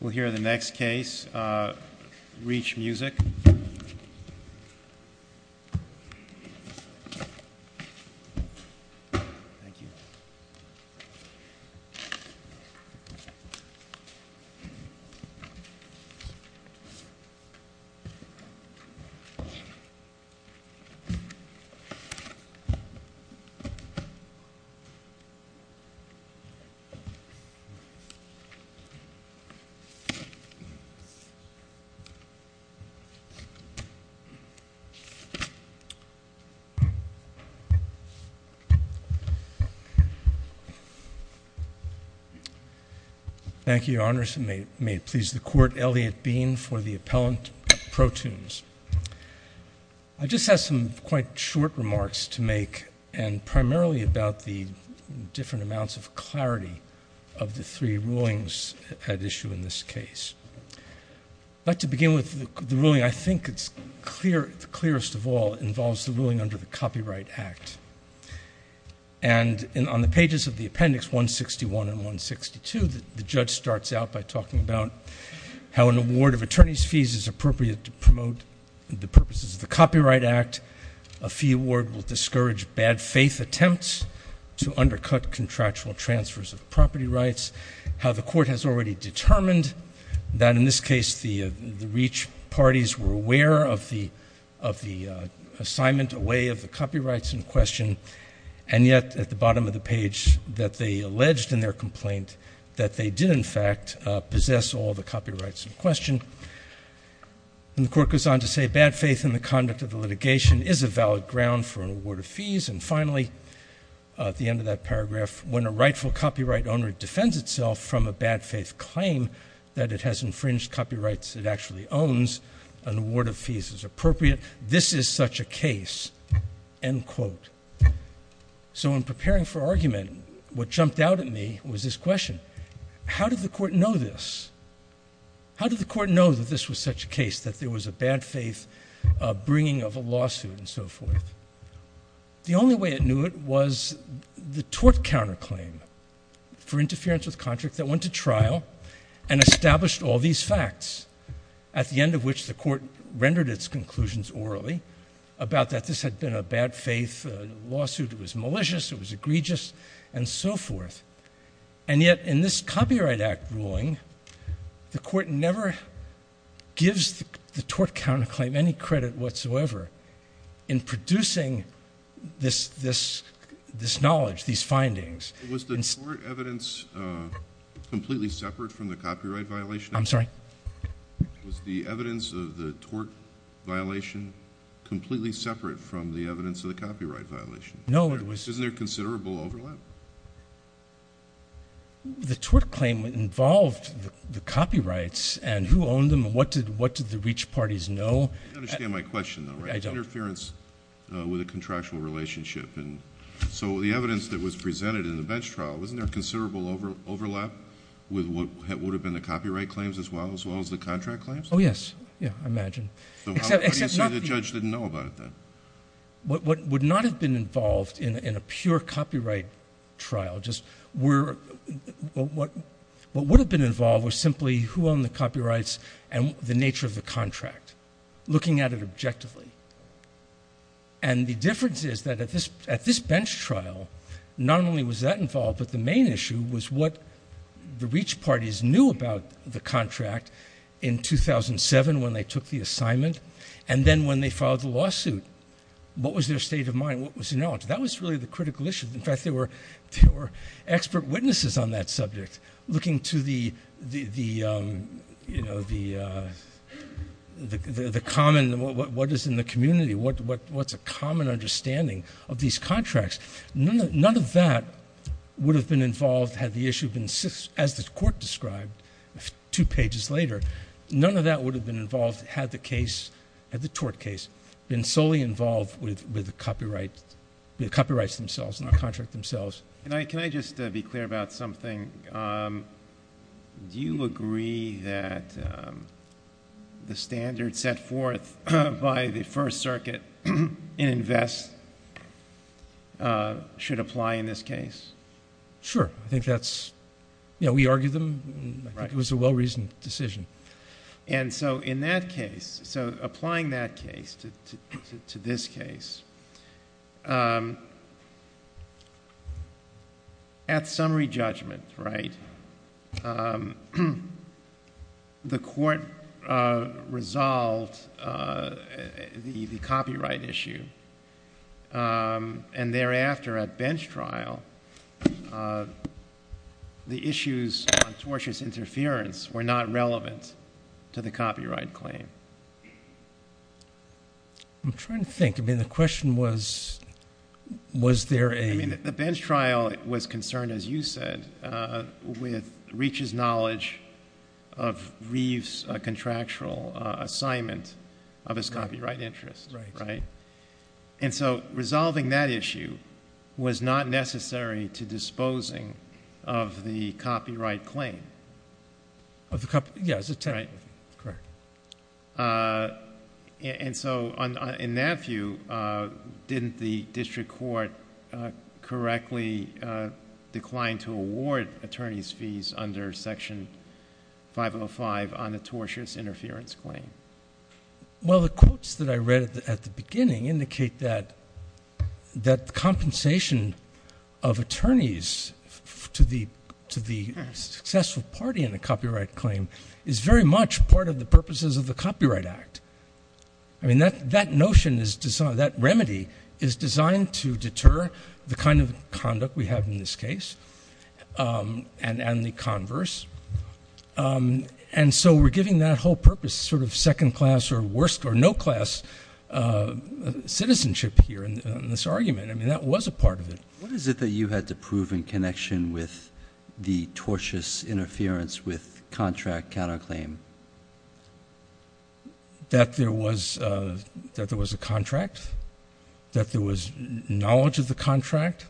We'll hear the next case, REACH Music. Thank you, Your Honors, and may it please the Court, Elliot Beane for the Appellant Protunes. I just have some quite short remarks to make, and primarily about the different amounts of clarity of the three rulings at issue in this case. I'd like to begin with the ruling, I think it's clear, the clearest of all, involves the ruling under the Copyright Act. And on the pages of the appendix 161 and 162, the judge starts out by talking about how an award of attorney's fees is appropriate to promote the purposes of the Copyright Act. A fee award will discourage bad faith attempts to undercut contractual transfers of property rights. How the Court has already determined that, in this case, the REACH parties were aware of the assignment away of the copyrights in question, and yet at the bottom of the page that they alleged in their complaint that they did, in fact, possess all the copyrights in question. And the Court goes on to say, bad faith in the conduct of the litigation is a valid ground for an award of fees. And finally, at the end of that paragraph, when a rightful copyright owner defends itself from a bad faith claim that it has infringed copyrights it actually owns, an award of fees is appropriate. This is such a case, end quote. So in preparing for argument, what jumped out at me was this question. How did the Court know this? How did the Court know that this was such a case, that there was a bad faith bringing of a lawsuit and so forth? The only way it knew it was the tort counterclaim for interference with contract that went to trial and established all these facts, at the end of which the Court rendered its conclusions orally about that this had been a bad faith lawsuit, it was malicious, it was egregious, and so forth. And yet, in this Copyright Act ruling, the Court never gives the tort counterclaim any credit whatsoever in producing this knowledge, these findings. Was the tort evidence completely separate from the copyright violation? I'm sorry? Was the evidence of the tort violation completely separate from the evidence of the copyright violation? No, it was... Yes. Isn't there considerable overlap? The tort claim involved the copyrights and who owned them and what did the reach parties know? You understand my question, though, right? I don't. Interference with a contractual relationship. So the evidence that was presented in the bench trial, wasn't there considerable overlap with what would have been the copyright claims as well, as well as the contract claims? Oh, yes. Yeah, I imagine. So what do you say the judge didn't know about it, then? What would not have been involved in a pure copyright trial, just what would have been involved was simply who owned the copyrights and the nature of the contract, looking at it objectively. And the difference is that at this bench trial, not only was that involved, but the main issue was what the reach parties knew about the contract in 2007, when they took the assignment, and then when they filed the lawsuit, what was their state of mind? What was their knowledge? That was really the critical issue. In fact, there were expert witnesses on that subject, looking to the common, what is in the community, what's a common understanding of these contracts. None of that would have been involved had the issue been, as the court described two years ago, had the tort case been solely involved with the copyrights themselves and the contract themselves. Can I just be clear about something? Do you agree that the standard set forth by the First Circuit in InVEST should apply in this case? Sure. I think that's, you know, we argued them. I think it was a well-reasoned decision. And so in that case, so applying that case to this case, at summary judgment, right, the court resolved the copyright issue, and thereafter at bench trial, the issues on tortious interference were not relevant to the copyright claim. I'm trying to think. I mean, the question was, was there a... I mean, the bench trial was concerned, as you said, with Reach's knowledge of Reeve's contractual assignment of his copyright interest, right? And so resolving that issue was not necessary to disposing of the copyright claim. Yes, it's technically correct. And so in that view, didn't the district court correctly decline to award attorney's fees under Section 505 on the tortious interference claim? Well, the quotes that I read at the beginning indicate that compensation of attorneys to the successful party in a copyright claim is very much part of the purposes of the Copyright Act. I mean, that notion is designed, that remedy is designed to deter the kind of conduct we have in this case, and the converse. And so we're giving that whole purpose, sort of second-class or no-class citizenship here in this argument. I mean, that was a part of it. What is it that you had to prove in connection with the tortious interference with contract counterclaim? That there was a contract, that there was knowledge of the contract,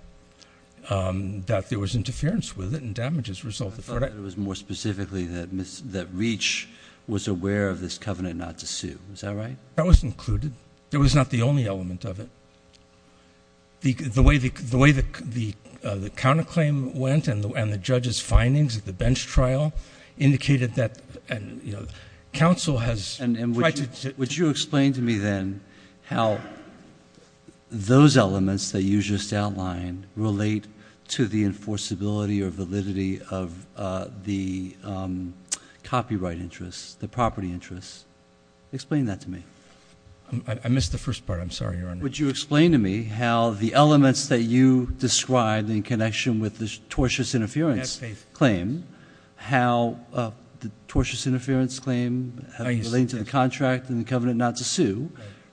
that there was interference with it and damages resulted from it. That it was more specifically that Reach was aware of this covenant not to sue. Is that right? That was included. It was not the only element of it. The way the counterclaim went and the judge's findings at the bench trial indicated that counsel has tried to- And would you explain to me then how those elements that you just outlined relate to the enforceability or validity of the copyright interests, the property interests? Explain that to me. I missed the first part. I'm sorry, Your Honor. Would you explain to me how the elements that you described in connection with this tortious interference claim, how the tortious interference claim relating to the contract and the covenant not to sue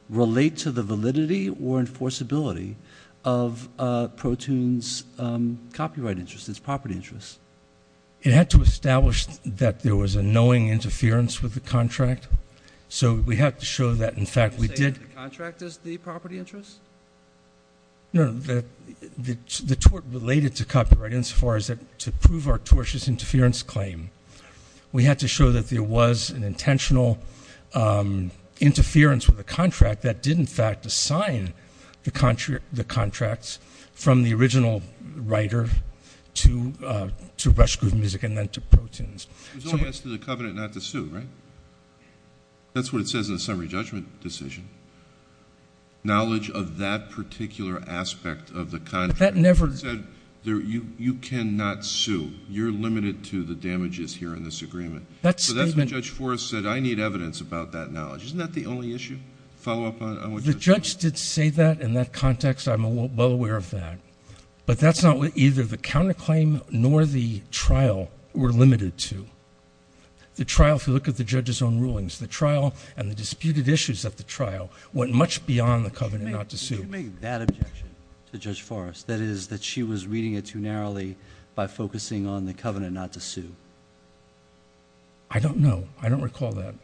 relate to the validity or enforceability of Protoon's copyright interests, its property interests? It had to establish that there was a knowing interference with the contract. So we had to show that, in fact, we did- Did you say that the contract is the property interest? No, the tort related to copyright insofar as to prove our tortious interference claim. We had to show that there was an intentional interference with the contract that did in fact assign the contracts from the original writer to Rush Group Music and then to Protoon's. It was only asked of the covenant not to sue, right? That's what it says in the summary judgment decision. Knowledge of that particular aspect of the contract- But that never- You said you cannot sue. You're limited to the damages here in this agreement. That statement- So that's what Judge Forrest said. I need evidence about that knowledge. Isn't that the only issue? Follow up on what Judge Forrest said? The judge did say that in that context. I'm well aware of that. But that's not what either the counterclaim nor the trial were limited to. The trial, if you look at the judge's own rulings, the trial and the disputed issues at the trial went much beyond the covenant not to sue. Why did you make that objection to Judge Forrest? That is, that she was reading it too narrowly by focusing on the covenant not to sue? I don't know. I don't recall that.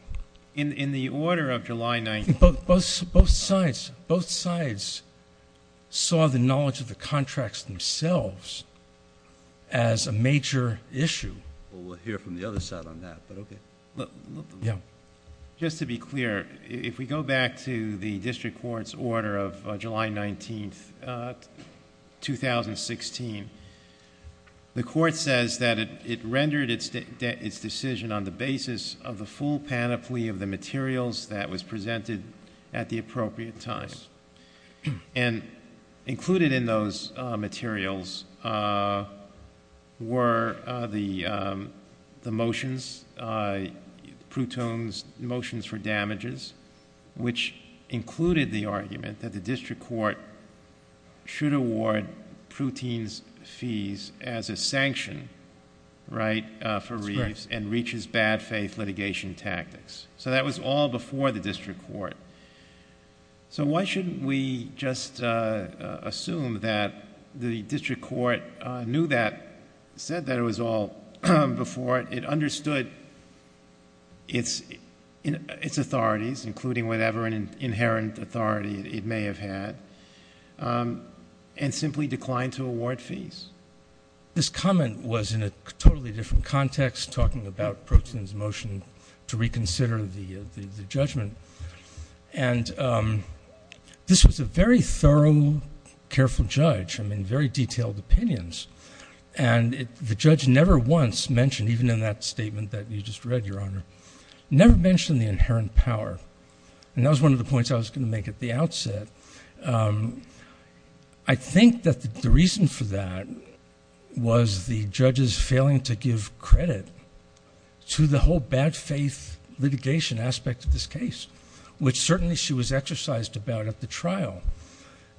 In the order of July 19- Both sides saw the knowledge of the contracts themselves as a major issue. Well, we'll hear from the other side on that, but okay. Yeah. Just to be clear, if we go back to the district court's order of July 19, 2016, the court says that it rendered its decision on the basis of the full panoply of the materials that was presented at the appropriate times. Included in those materials were the motions, Prouton's motions for damages, which included the argument that the district court should award Prouton's fees as a sanction for Reeves and reaches bad faith litigation tactics. That was all before the district court. Why shouldn't we just assume that the district court knew that, said that it was all before it, it understood its authorities, including whatever inherent authority it may have had, and simply declined to award fees? This comment was in a totally different context talking about Prouton's motion to reconsider the judgment. This was a very thorough, careful judge, I mean, very detailed opinions. The judge never once mentioned, even in that statement that you just read, Your Honor, never mentioned the inherent power. That was one of the points I was going to make at the outset. I think that the reason for that was the judge's failing to give credit to the whole bad faith litigation aspect of this case, which certainly she was exercised about at the trial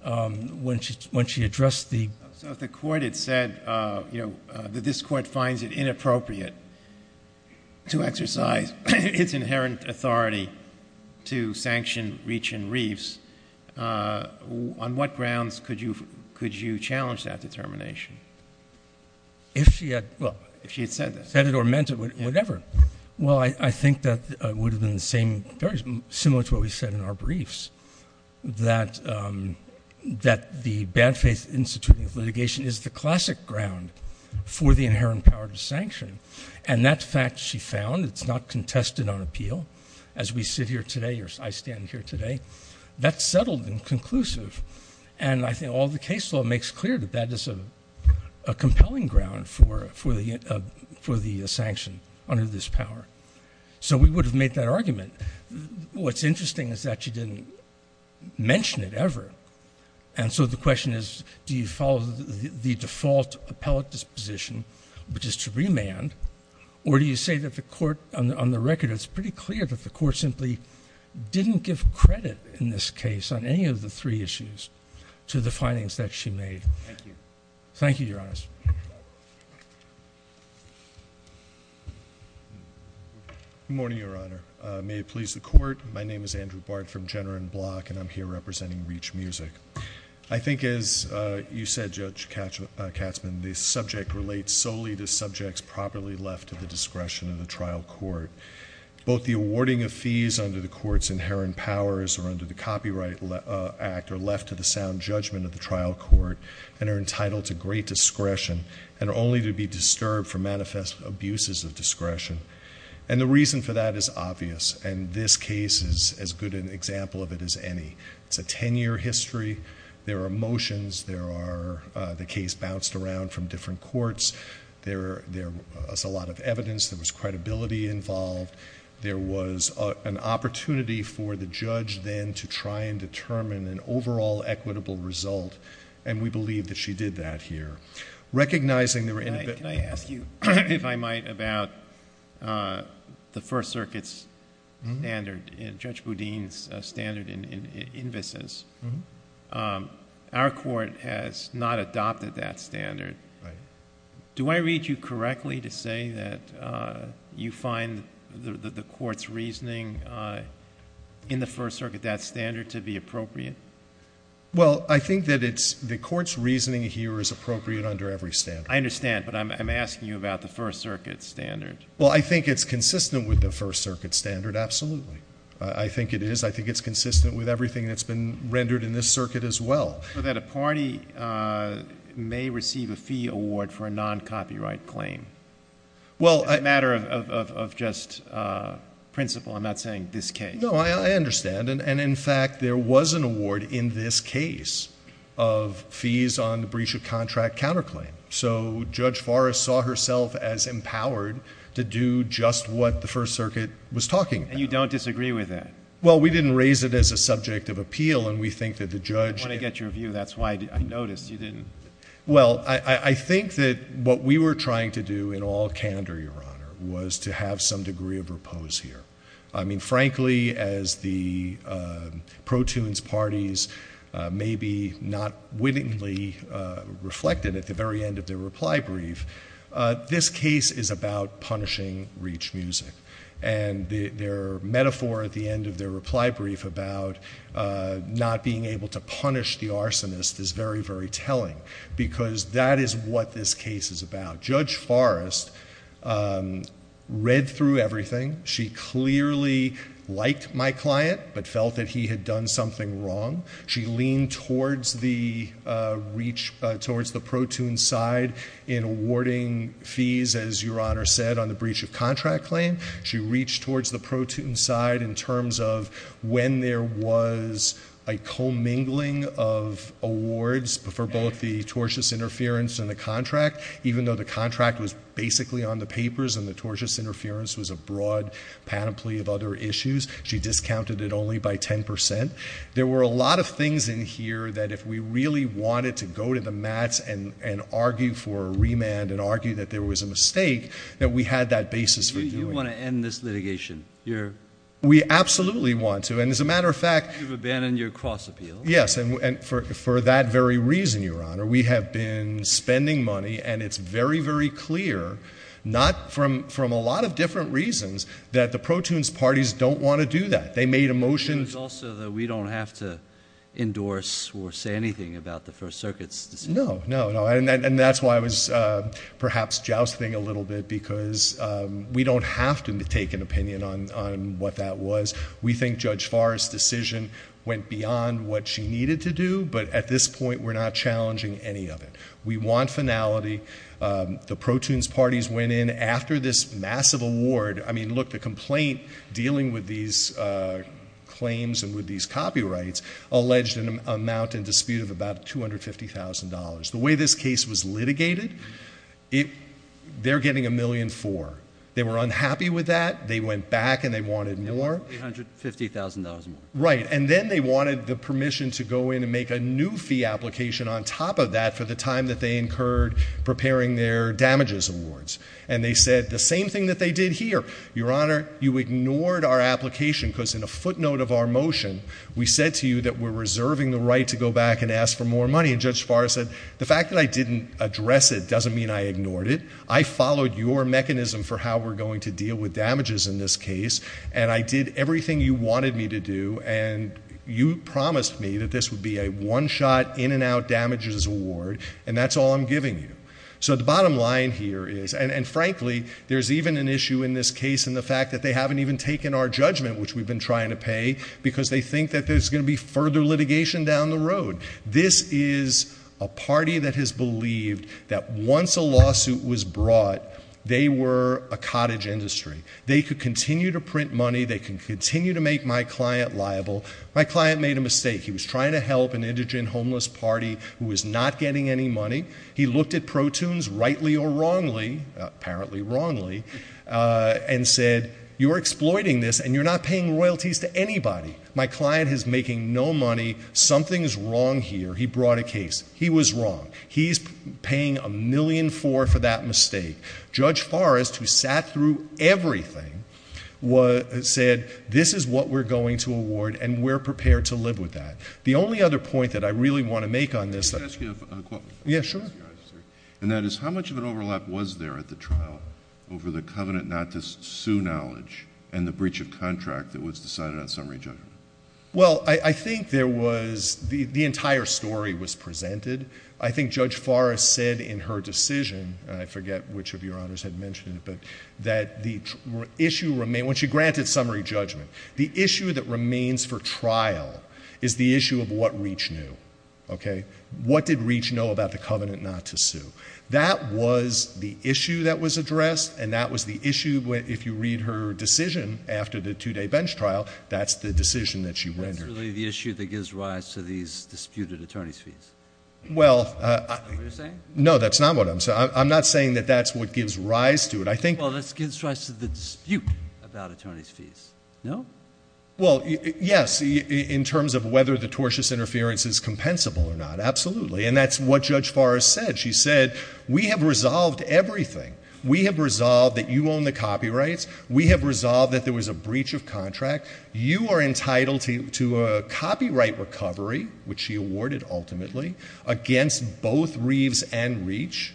when she addressed the... So if the court had said that this court finds it inappropriate to exercise its inherent authority to sanction Reach and Reeves, on what grounds could you challenge that determination? If she had... Well... If she had said that. Said it or meant it, whatever. Well, I think that would have been the same, very similar to what we said in our briefs, that the bad faith instituting of litigation is the classic ground for the inherent power to sanction, and that fact she found, it's not contested on appeal, as we sit here today, or I stand here today, that's settled and conclusive, and I think all the case law makes clear that that is a compelling ground for the sanction under this power. So we would have made that argument. What's interesting is that she didn't mention it ever, and so the question is, do you follow the default appellate disposition, which is to remand, or do you say that the court, on the record, it's pretty clear that the court simply didn't give credit in this case on any of the three issues to the findings that she made? Thank you. Thank you, Your Honors. Good morning, Your Honor. May it please the court. My name is Andrew Bard from Jenner and Block, and I'm here representing Reach Music. I think as you said, Judge Katzmann, the subject relates solely to subjects properly left to the discretion of the trial court. Both the awarding of fees under the court's inherent powers, or under the discretion, and only to be disturbed for manifest abuses of discretion, and the reason for that is obvious, and this case is as good an example of it as any. It's a ten-year history, there are motions, there are... the case bounced around from different courts, there was a lot of evidence, there was credibility involved, there was an opportunity for the judge then to try and determine an overall equitable result, and we believe that she did that here. Recognizing... Can I ask you, if I might, about the First Circuit's standard, Judge Boudin's standard in invices? Our court has not adopted that standard. Do I read you correctly to say that you find the court's reasoning in the First Circuit appropriate? Well, I think that it's... the court's reasoning here is appropriate under every standard. I understand, but I'm asking you about the First Circuit's standard. Well, I think it's consistent with the First Circuit's standard, absolutely. I think it is. I think it's consistent with everything that's been rendered in this circuit as well. So that a party may receive a fee award for a non-copyright claim. Well, I... As a matter of just principle, I'm not saying this case. No, I understand, and in fact, there was an award in this case of fees on the breach of contract counterclaim. So Judge Forrest saw herself as empowered to do just what the First Circuit was talking about. And you don't disagree with that? Well, we didn't raise it as a subject of appeal, and we think that the judge... I want to get your view. That's why I noticed you didn't... Well, I think that what we were trying to do in all candor, Your Honor, was to have some degree of repose here. I mean, frankly, as the pro-tunes parties may be not wittingly reflected at the very end of their reply brief, this case is about punishing reach music. And their metaphor at the end of their reply brief about not being able to punish the arsonist is very, very telling, because that is what this case is about. Judge Forrest read through everything. She clearly liked my client, but felt that he had done something wrong. She leaned towards the pro-tunes side in awarding fees, as Your Honor said, on the breach of contract claim. She reached towards the pro-tunes side in terms of when there was a commingling of awards for both the tortious interference and the contract, even though the contract was basically on the papers and the tortious panoply of other issues. She discounted it only by 10%. There were a lot of things in here that if we really wanted to go to the mats and argue for a remand and argue that there was a mistake, that we had that basis for doing it. You want to end this litigation? We absolutely want to. And as a matter of fact... You've abandoned your cross-appeal. Yes, and for that very reason, Your Honor, we have been spending money. And it's very, very clear, not from a lot of different reasons, that the pro-tunes parties don't want to do that. They made a motion... It was also that we don't have to endorse or say anything about the First Circuit's decision. No, no, no. And that's why I was perhaps jousting a little bit, because we don't have to take an opinion on what that was. We think Judge Farr's decision went beyond what she needed to do, but at this point, we're not challenging any of it. We want finality. The pro-tunes parties went in after this massive award. I mean, look, the complaint dealing with these claims and with these copyrights alleged an amount in dispute of about $250,000. The way this case was litigated, they're getting $1,000,004. They were unhappy with that. They went back and they wanted more. $350,000 more. Right. And then they wanted the permission to go in and make a new fee application on top of that for the time that they incurred preparing their damages awards, and they said the same thing that they did here. Your Honor, you ignored our application, because in a footnote of our motion, we said to you that we're reserving the right to go back and ask for more money, and Judge Farr said, the fact that I didn't address it doesn't mean I ignored it. I followed your mechanism for how we're going to deal with damages in this case, and I did everything you wanted me to do, and you promised me that this would be a one-shot, in-and-out damages award, and that's all I'm giving you. So the bottom line here is, and frankly, there's even an issue in this case in the fact that they haven't even taken our judgment, which we've been trying to pay, because they think that there's going to be further litigation down the road. This is a party that has believed that once a lawsuit was brought, they were a cottage industry. They could continue to print money. They can continue to make my client liable. My client made a mistake. He was trying to help an indigent, homeless party who was not getting any money. He looked at protunes rightly or wrongly, apparently wrongly, and said, you're exploiting this, and you're not paying royalties to anybody. My client is making no money. Something's wrong here. He brought a case. He was wrong. He's paying $1,000,004 for that mistake. Judge Farr, who sat through everything, said, this is what we're going to award, and we're prepared to live with that. The only other point that I really want to make on this... Can I ask you a question? Yes, sure. And that is, how much of an overlap was there at the trial over the covenant not to sue knowledge and the breach of contract that was decided on summary judgment? Well, I think there was... the entire story was presented. I think Judge Farr said in her decision, and I forget which of your honors had mentioned it, but that the issue... when she granted summary judgment, the issue that remains for trial is the issue of what Reach knew. Okay? What did Reach know about the covenant not to sue? That was the issue that was addressed, and that was the issue... if you read her decision after the two-day bench trial, that's the decision that she rendered. That's really the issue that gives rise to these disputed attorney's fees. Is that what you're saying? No, that's not what I'm saying. I'm not saying that that's what gives rise to it. I think... No? Well, yes, in terms of whether the tortious interference is compensable or not, absolutely, and that's what Judge Farr has said. She said, we have resolved everything. We have resolved that you own the copyrights. We have resolved that there was a breach of contract. You are entitled to a copyright recovery, which she awarded ultimately, against both Reeves and Reach.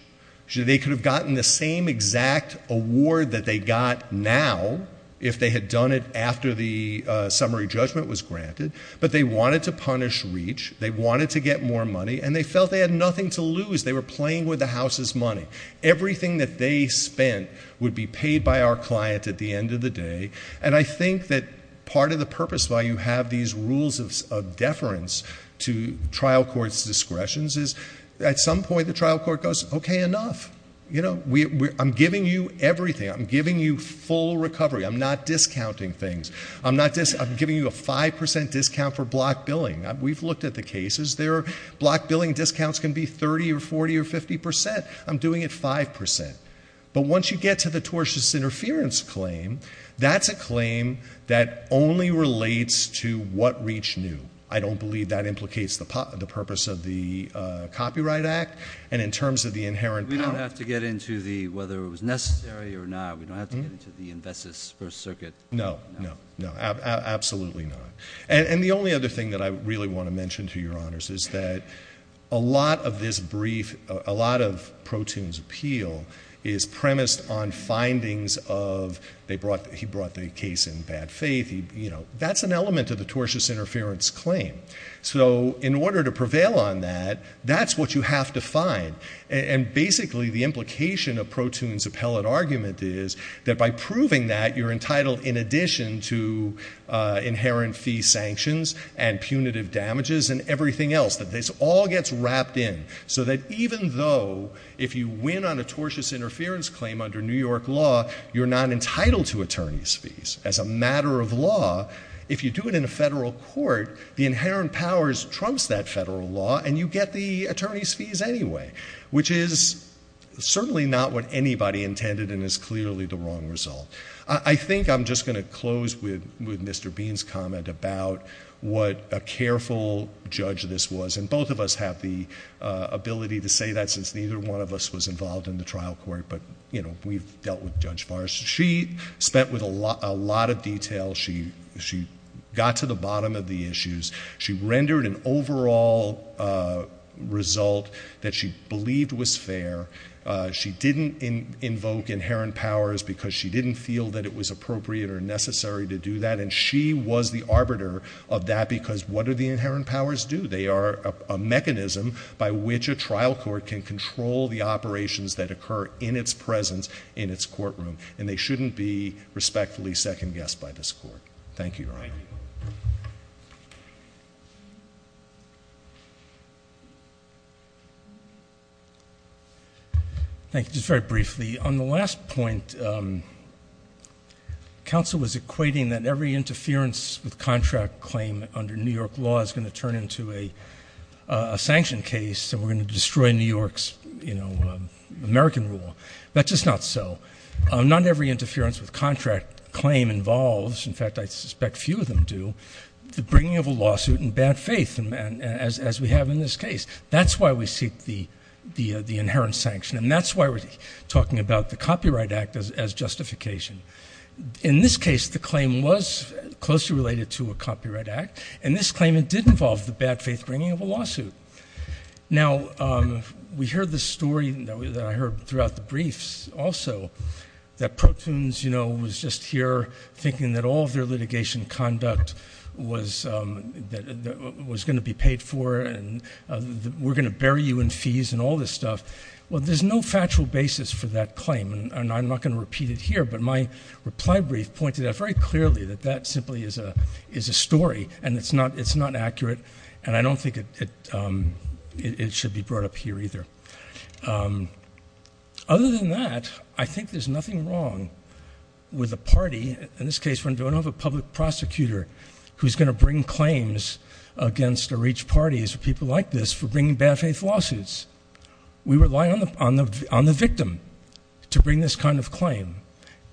They could have gotten the same exact award that they got now if they had done it after the summary judgment was granted, but they wanted to punish Reach. They wanted to get more money, and they felt they had nothing to lose. They were playing with the House's money. Everything that they spent would be paid by our client at the end of the day. I think that part of the purpose why you have these rules of deference to trial court's discretions is, at some point, the trial court goes, okay, enough. I'm giving you everything. I'm giving you full recovery. I'm not discounting things. I'm giving you a 5% discount for block billing. We've looked at the cases. Block billing discounts can be 30 or 40 or 50%. I'm doing it 5%. But once you get to the tortious interference claim, that's a claim that only relates to what Reach knew. I don't believe that implicates the purpose of the Copyright Act, and in terms of the inherent power. We don't have to get into whether it was necessary or not. We don't have to get into the Investigative First Circuit. No. No. No. Absolutely not. And the only other thing that I really want to mention, to your honors, is that a lot of this brief, a lot of Protoon's appeal is premised on findings of, he brought the case in bad faith. That's an element of the tortious interference claim. So in order to prevail on that, that's what you have to find. And basically, the implication of Protoon's appellate argument is that by proving that, you're entitled in addition to inherent fee sanctions and punitive damages and everything else, that this all gets wrapped in. So that even though, if you win on a tortious interference claim under New York law, you're not entitled to attorney's fees. As a matter of law, if you do it in a federal court, the inherent powers trumps that federal law and you get the attorney's fees anyway, which is certainly not what anybody intended and is clearly the wrong result. I think I'm just going to close with Mr. Bean's comment about what a careful judge this was. And both of us have the ability to say that since neither one of us was involved in the trial court. But, you know, we've dealt with Judge Farr's. She spent with a lot of detail. She got to the bottom of the issues. She rendered an overall result that she believed was fair. She didn't invoke inherent powers because she didn't feel that it was appropriate or necessary to do that. And she was the arbiter of that because what do the inherent powers do? They are a mechanism by which a trial court can control the operations that occur in its presence in its courtroom. And they shouldn't be respectfully second-guessed by this court. Thank you, Your Honor. Thank you. Thank you. Just very briefly, on the last point, counsel was equating that every interference with contract claim under New York law is going to turn into a sanction case, so we're going to destroy New York's, you know, American rule. That's just not so. Not every interference with contract claim involves. In fact, I suspect few of them do, the bringing of a lawsuit in bad faith, as we have in this case. That's why we seek the inherent sanction, and that's why we're talking about the Copyright Act as justification. In this case, the claim was closely related to a copyright act, and this claim, it did involve the bad faith bringing of a lawsuit. Now, we heard the story that I heard throughout the briefs also that Protoons, you know, was just here thinking that all of their litigation conduct was going to be paid for, and we're going to bury you in fees and all this stuff. Well, there's no factual basis for that claim, and I'm not going to repeat it here, but my reply brief pointed out very clearly that that simply is a story, and it's not accurate, and I don't think it should be brought up here either. Other than that, I think there's nothing wrong with a party, in this case, when you don't have a public prosecutor who's going to bring claims against or reach parties or people like this for bringing bad faith lawsuits. We rely on the victim to bring this kind of claim.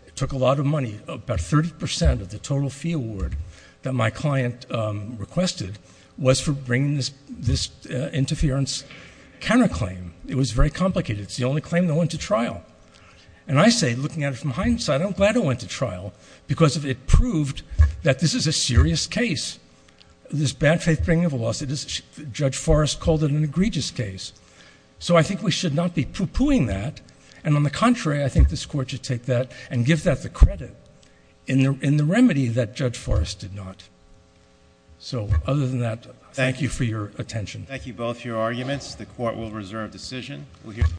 It took a lot of money, about 30% of the total fee award that my client requested was for bringing this interference counterclaim. It was very complicated. It's the only claim that went to trial. And I say, looking at it from hindsight, I'm glad it went to trial, because it proved that this is a serious case, this bad faith bringing of a lawsuit. Judge Forrest called it an egregious case. So I think we should not be poo-pooing that, and on the contrary, I think this Court should take that and give that the credit in the remedy that Judge Forrest did not. So, other than that, thank you for your attention. Thank you both for your arguments. The Court will reserve decision.